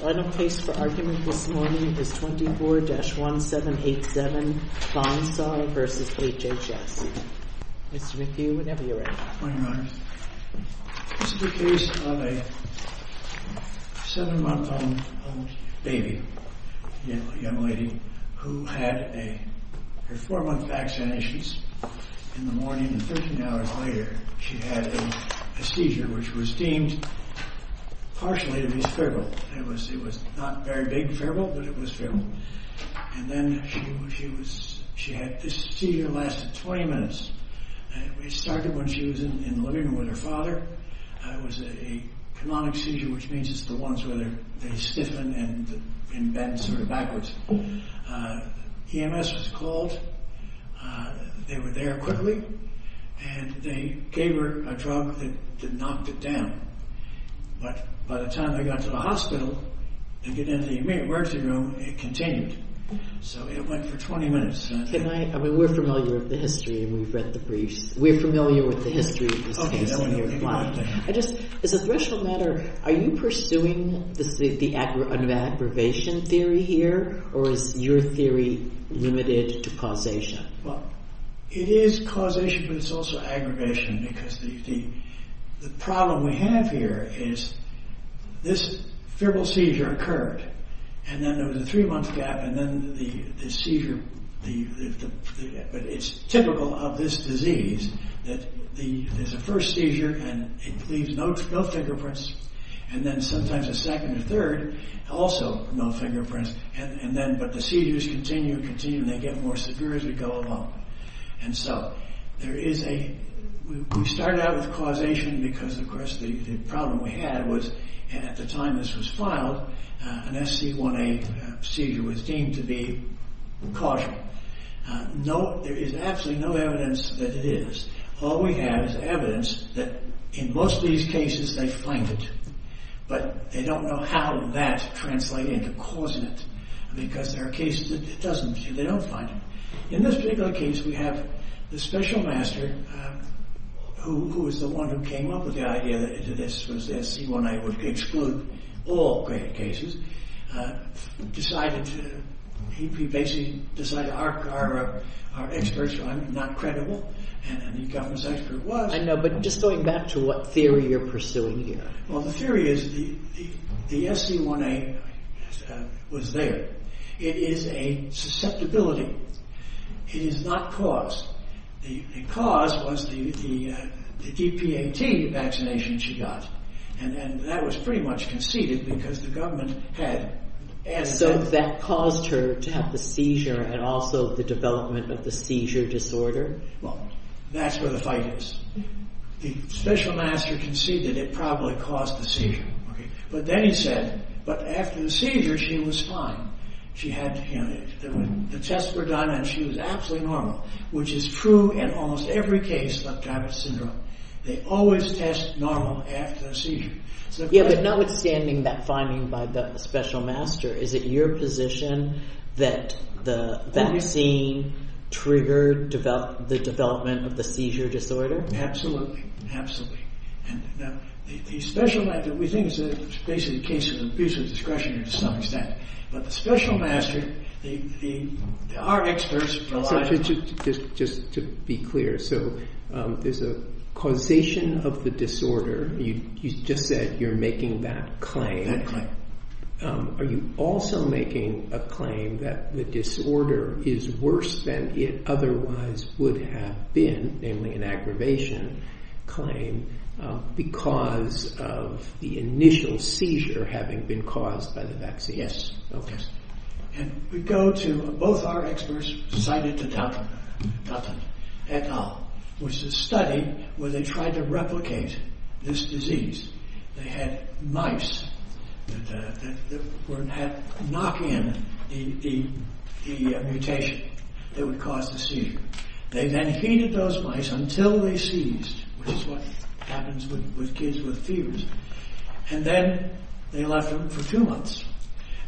Final case for argument this morning is 24-1787, Vinesar v. HHS. Mr. McHugh, whenever you're ready. Good morning, Your Honor. This is a case of a 7-month-old baby, a young lady, who had her 4-month vaccinations. In the morning, 13 hours later, she had a seizure which was deemed partially to be cerebral. It was not very big febrile, but it was febrile. This seizure lasted 20 minutes. It started when she was in the living room with her father. It was a cononic seizure, which means it's the ones where they stiffen and bend sort of backwards. EMS was called. They were there quickly, and they gave her a drug that knocked it down. By the time they got to the hospital and got into the emergency room, it continued. So it went for 20 minutes. We're familiar with the history, and we've read the briefs. We're familiar with the history of this case. As a threshold matter, are you pursuing the aggravation theory here, or is your theory limited to causation? It is causation, but it's also aggravation, because the problem we have here is this febrile seizure occurred, and then there was a 3-month gap, but it's typical of this disease that there's a first seizure, and it leaves no fingerprints, and then sometimes a second or third, also no fingerprints, but the seizures continue and continue, and they get more severe as we go along. We started out with causation because, of course, the problem we had was at the time this was filed, an SC1A seizure was deemed to be causal. There is absolutely no evidence that it is. All we have is evidence that in most of these cases they find it, but they don't know how that translates into causant, because there are cases that it doesn't. They don't find it. In this particular case, we have the special master, who was the one who came up with the idea that SC1A would exclude all credit cases. He basically decided our experts are not credible, and the government's expert was. I know, but just going back to what theory you're pursuing here. Well, the theory is the SC1A was there. It is a susceptibility. It is not cause. The cause was the DPAT vaccination she got, and that was pretty much conceded because the government had... So that caused her to have the seizure and also the development of the seizure disorder? Well, that's where the fight is. The special master conceded it probably caused the seizure. But then he said, but after the seizure she was fine. The tests were done and she was absolutely normal, which is true in almost every case of Diabetes Syndrome. They always test normal after the seizure. Yeah, but notwithstanding that finding by the special master, is it your position that the vaccine triggered the development of the seizure disorder? Absolutely. We think it's basically a case of abuse of discretion to some extent. But the special master, our experts... Just to be clear, so there's a causation of the disorder. You just said you're making that claim. Are you also making a claim that the disorder is worse than it otherwise would have been, namely an aggravation claim, because of the initial seizure having been caused by the vaccine? Yes. Okay. And we go to, both our experts decided to doubt them at all, which is a study where they tried to replicate this disease. They had mice that would knock in the mutation that would cause the seizure. They then heated those mice until they seized, which is what happens with kids with fevers, and then they left them for two months.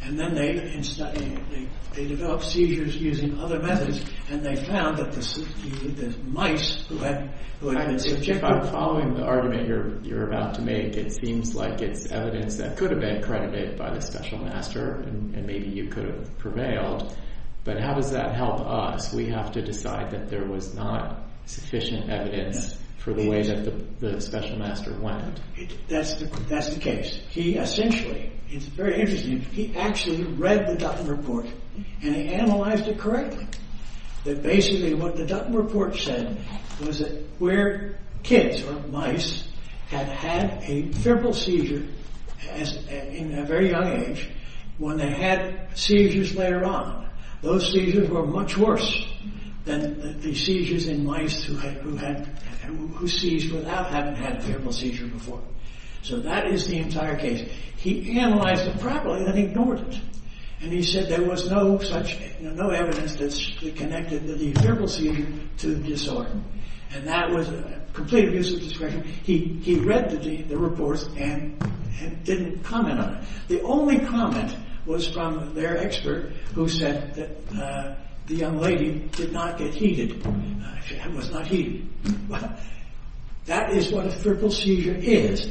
And then they developed seizures using other methods, and they found that the mice who had been subjected... I think it seems like it's evidence that could have been accredited by the special master, and maybe you could have prevailed, but how does that help us? We have to decide that there was not sufficient evidence for the way that the special master went. That's the case. He essentially, it's very interesting, he actually read the Dutton Report, and he analyzed it correctly. That basically what the Dutton Report said was that where kids, or mice, had had a febrile seizure in a very young age, when they had seizures later on, those seizures were much worse than the seizures in mice who seized without having had a febrile seizure before. So that is the entire case. He analyzed it properly, then ignored it. And he said there was no evidence that connected the febrile seizure to the disorder. And that was a complete abuse of discretion. He read the report and didn't comment on it. The only comment was from their expert, who said that the young lady did not get heated. She was not heated. That is what a febrile seizure is.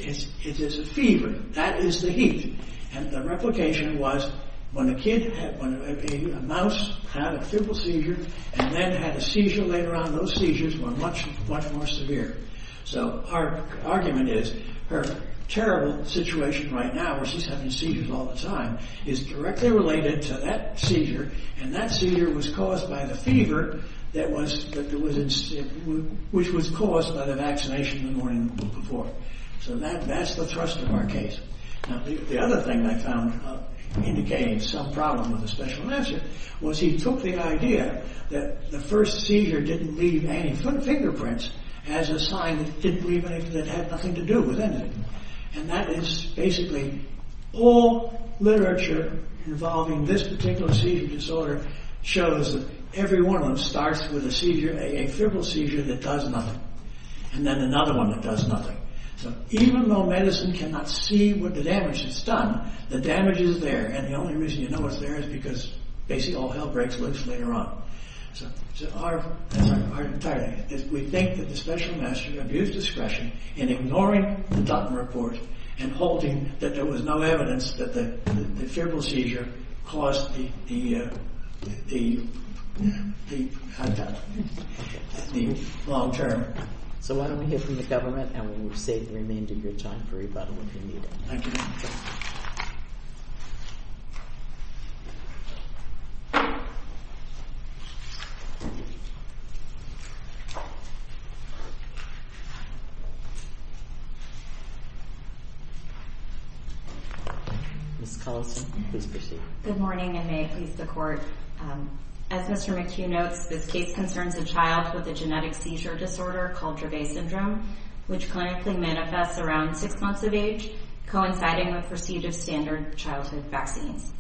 It is a fever. That is the heat. And the replication was when a mouse had a febrile seizure, and then had a seizure later on, those seizures were much more severe. So our argument is her terrible situation right now, where she's having seizures all the time, is directly related to that seizure, and that seizure was caused by the fever, which was caused by the vaccination the morning before. So that's the thrust of our case. The other thing I found indicating some problem with the special answer was he took the idea that the first seizure didn't leave any footprints as a sign that it had nothing to do with anything. And that is basically all literature involving this particular seizure disorder shows that every one of them starts with a seizure, a febrile seizure that does nothing, and then another one that does nothing. So even though medicine cannot see what the damage has done, the damage is there, and the only reason you know it's there is because basically all hell breaks loose later on. So our argument is we think that the special master abused discretion in ignoring the Dutton Report and holding that there was no evidence that the febrile seizure caused the long term. So why don't we hear from the government, and we will save the remainder of your time for rebuttal if you need it. Thank you. Ms. Collison, please proceed. Good morning, and may it please the Court. As Mr. McHugh notes, this case concerns a child with a genetic seizure disorder called Dravet Syndrome, which clinically manifests around six months of age, coinciding with procedure standard childhood vaccines.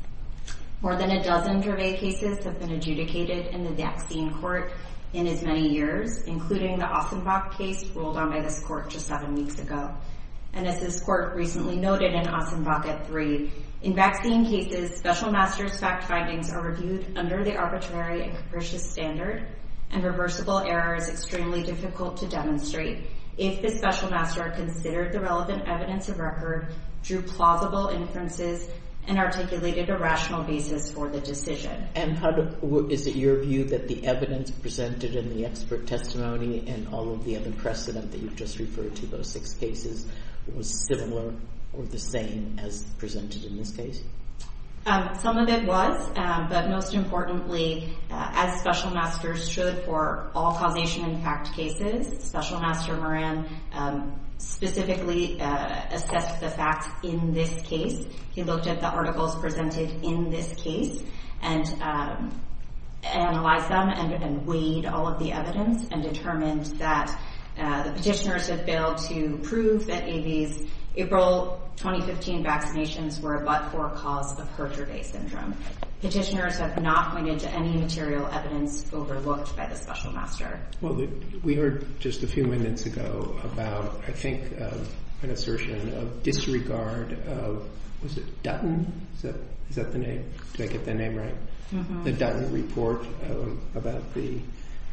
More than a dozen Dravet cases have been adjudicated in the vaccine court in as many years, including the Ostenbach case ruled on by this court just seven weeks ago. And as this court recently noted in Ostenbach at three, in vaccine cases, special master's fact findings are reviewed under the arbitrary and capricious standard, and reversible error is extremely difficult to demonstrate. If the special master considered the relevant evidence of record, drew plausible inferences, and articulated a rational basis for the decision. And is it your view that the evidence presented in the expert testimony and all of the other precedent that you've just referred to, those six cases, was similar or the same as presented in this case? Some of it was, but most importantly, as special masters should for all causation impact cases, special master Moran specifically assessed the facts in this case. He looked at the articles presented in this case and analyzed them and weighed all of the evidence and determined that the petitioners have failed to prove that April 2015 vaccinations were a but-for cause of Herger-Day syndrome. Petitioners have not pointed to any material evidence overlooked by the special master. Well, we heard just a few minutes ago about, I think, an assertion of disregard of, was it Dutton? Is that the name? Did I get the name right? The Dutton report about the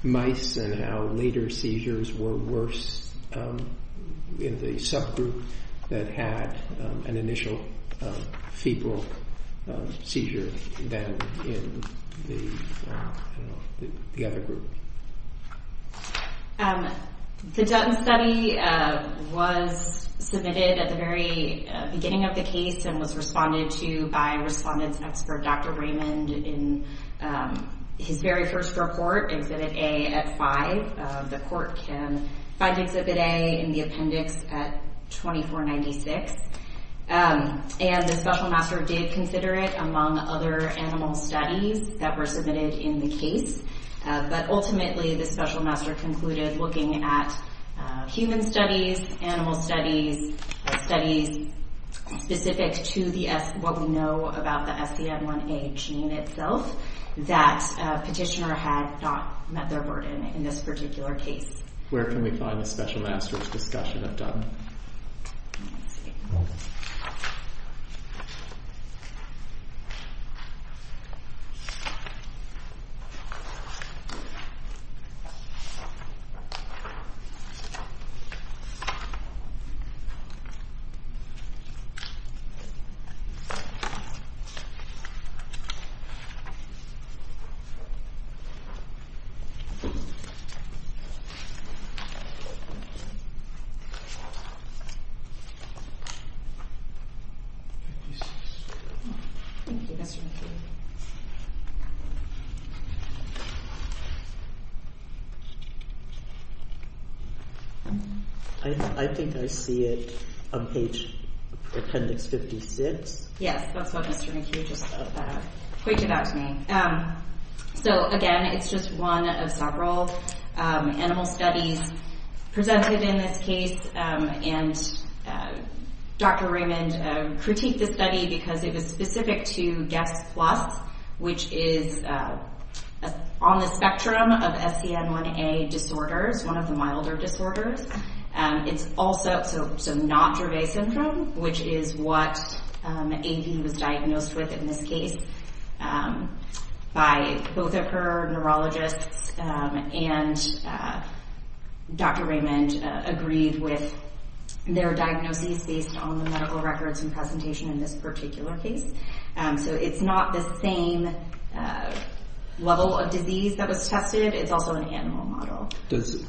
mice and how later seizures were worse in the subgroup that had an initial feeble seizure than in the other group. The Dutton study was submitted at the very beginning of the case and was responded to by respondents expert Dr. Raymond in his very first report, Exhibit A at 5. The court can find Exhibit A in the appendix at 2496. And the special master did consider it among other animal studies that were submitted in the case. But ultimately, the special master concluded looking at human studies, animal studies, studies specific to what we know about the SCN1A gene itself, that a petitioner had not met their burden in this particular case. Where can we find the special master's discussion of Dutton? Let me see. Thank you, Mr. McHugh. I think I see it on page appendix 56. Yes, that's what Mr. McHugh just pointed out to me. So again, it's just one of several animal studies presented in this case and Dr. Raymond critiqued the study because it was specific to GUESS+, which is on the spectrum of SCN1A disorders, one of the milder disorders. It's also not Dravet syndrome, which is what Amy was diagnosed with in this case by both of her neurologists and Dr. Raymond agreed with their diagnosis based on the medical records and presentation in this particular case. So it's not the same level of disease that was tested. It's also an animal model. Does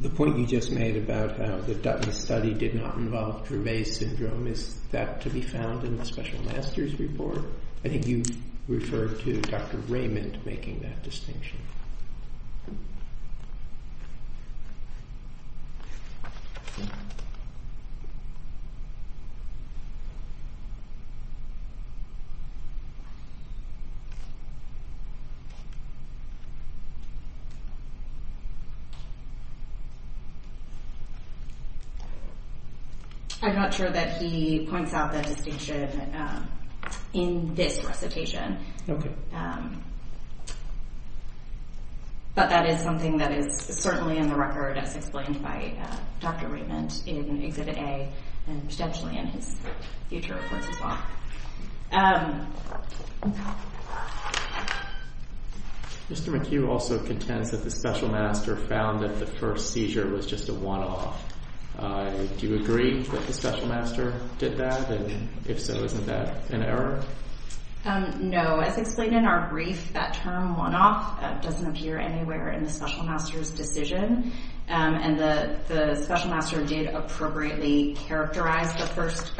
the point you just made about how the Dutton study did not involve Dravet syndrome, is that to be found in the special master's report? I think you referred to Dr. Raymond making that distinction. I'm not sure that he points out that distinction in this recitation. But that is something that is certainly in the record as explained by Dr. Raymond in Exhibit A and potentially in his future reports as well. Mr. McHugh also contends that the special master found that the first seizure was just a one-off. Do you agree that the special master did that? And if so, isn't that an error? No. As explained in our brief, that term one-off doesn't appear anywhere in the special master's decision. And the special master did appropriately characterize the first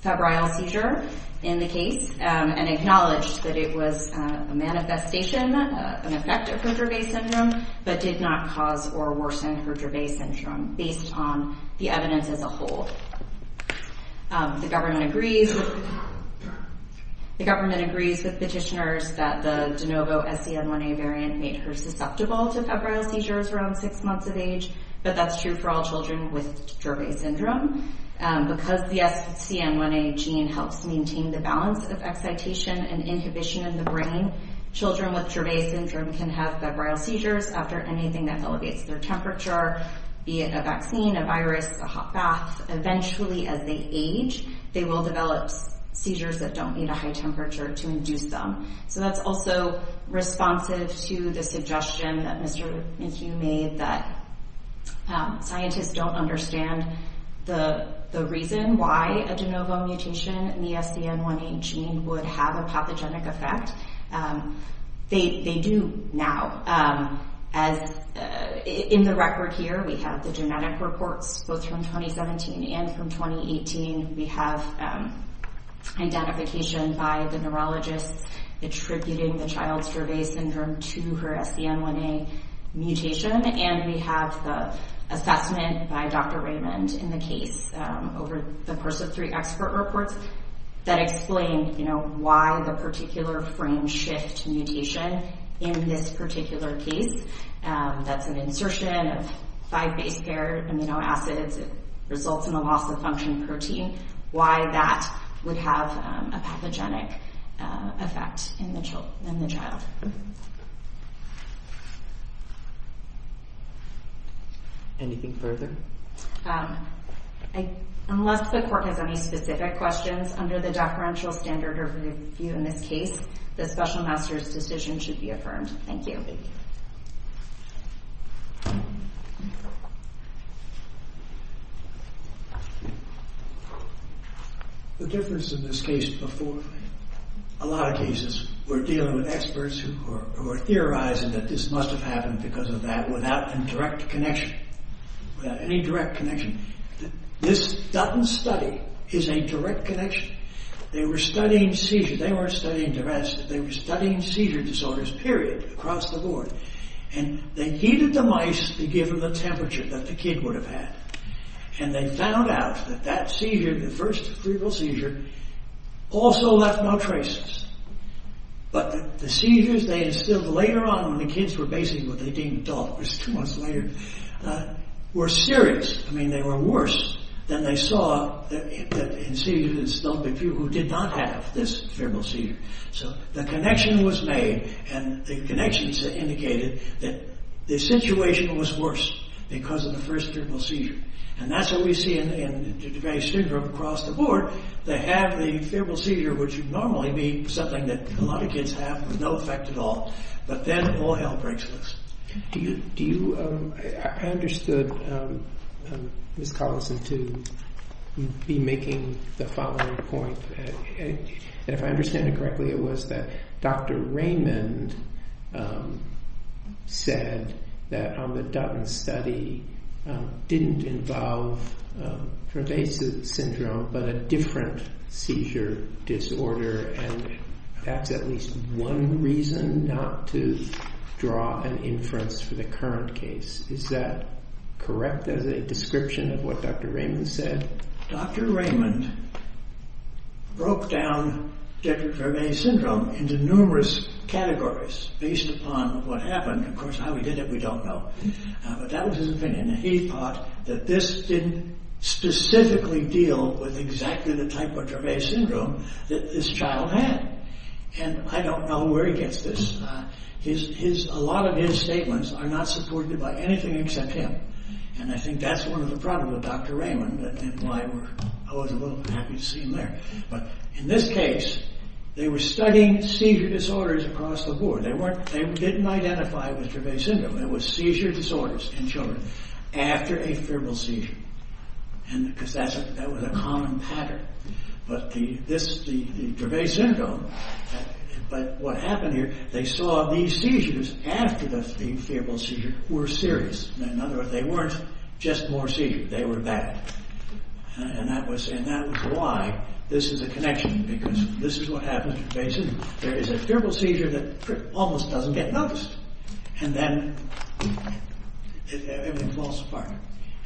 febrile seizure in the case and acknowledged that it was a manifestation, an effect of her Dravet syndrome, but did not cause or worsen her Dravet syndrome based on the evidence as a whole. The government agrees with petitioners that the de novo SCN1A variant made her susceptible to febrile seizures around six months of age, but that's true for all children with Dravet syndrome. Because the SCN1A gene helps maintain the balance of excitation and inhibition in the brain, children with Dravet syndrome can have febrile seizures after anything that elevates their temperature, be it a vaccine, a virus, a hot bath. Eventually, as they age, they will develop seizures that don't need a high temperature to induce them. So that's also responsive to the suggestion that Mr. McHugh made that scientists don't understand the reason why a de novo mutation in the SCN1A gene would have a pathogenic effect. They do now. In the record here, we have the genetic reports, both from 2017 and from 2018. We have identification by the neurologist attributing the child's Dravet syndrome to her SCN1A mutation, and we have the assessment by Dr. Raymond in the case over the course of three expert reports that explain why the particular frame shift mutation in this particular case, that's an insertion of five base pair amino acids, it results in a loss of function protein, why that would have a pathogenic effect in the child. Anything further? Unless the court has any specific questions, under the deferential standard of review in this case, the special master's decision should be affirmed. Thank you. The difference in this case before, a lot of cases, we're dealing with experts who are theorizing that this must have happened because of that without a direct connection, without any direct connection. This Dutton study is a direct connection. They were studying seizures. They weren't studying Dravet syndrome. They were studying seizure disorders, period, across the board. And they heated the mice to give them the temperature that the kid would have had. And they found out that that seizure, the first cerebral seizure, also left no traces. But the seizures they instilled later on, when the kids were basically what they deemed adults, two months later, were serious. I mean, they were worse than they saw in seizures instilled by people who did not have this cerebral seizure. So the connection was made, and the connections indicated that the situation was worse because of the first cerebral seizure. And that's what we see in Dravet syndrome across the board. They have the cerebral seizure, which would normally be something that a lot of kids have with no effect at all. But then all hell breaks loose. I understood Ms. Collison to be making the following point. If I understand it correctly, it was that Dr. Raymond said that the Dutton study didn't involve Dravet syndrome, but a different seizure disorder. And that's at least one reason not to draw an inference for the current case. Is that correct as a description of what Dr. Raymond said? Dr. Raymond broke down Dutton-Dravet syndrome into numerous categories based upon what happened. Of course, how he did it, we don't know. But that was his opinion. He thought that this didn't specifically deal with exactly the type of Dravet syndrome that this child had. And I don't know where he gets this. A lot of his statements are not supported by anything except him. And I think that's one of the problems with Dr. Raymond, and why I was a little happy to see him there. But in this case, they were studying seizure disorders across the board. They didn't identify with Dravet syndrome. It was seizure disorders in children after a febrile seizure, because that was a common pattern. But the Dravet syndrome, what happened here, they saw these seizures after the febrile seizure were serious. In other words, they weren't just more seizures. They were bad. And that was why this is a connection, because this is what happens with Dravet syndrome. There is a febrile seizure that almost doesn't get noticed. And then it falls apart.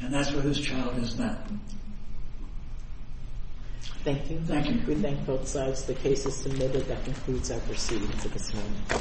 And that's what his child is not. Thank you. We thank both sides. The case is submitted. That concludes our proceedings at this time.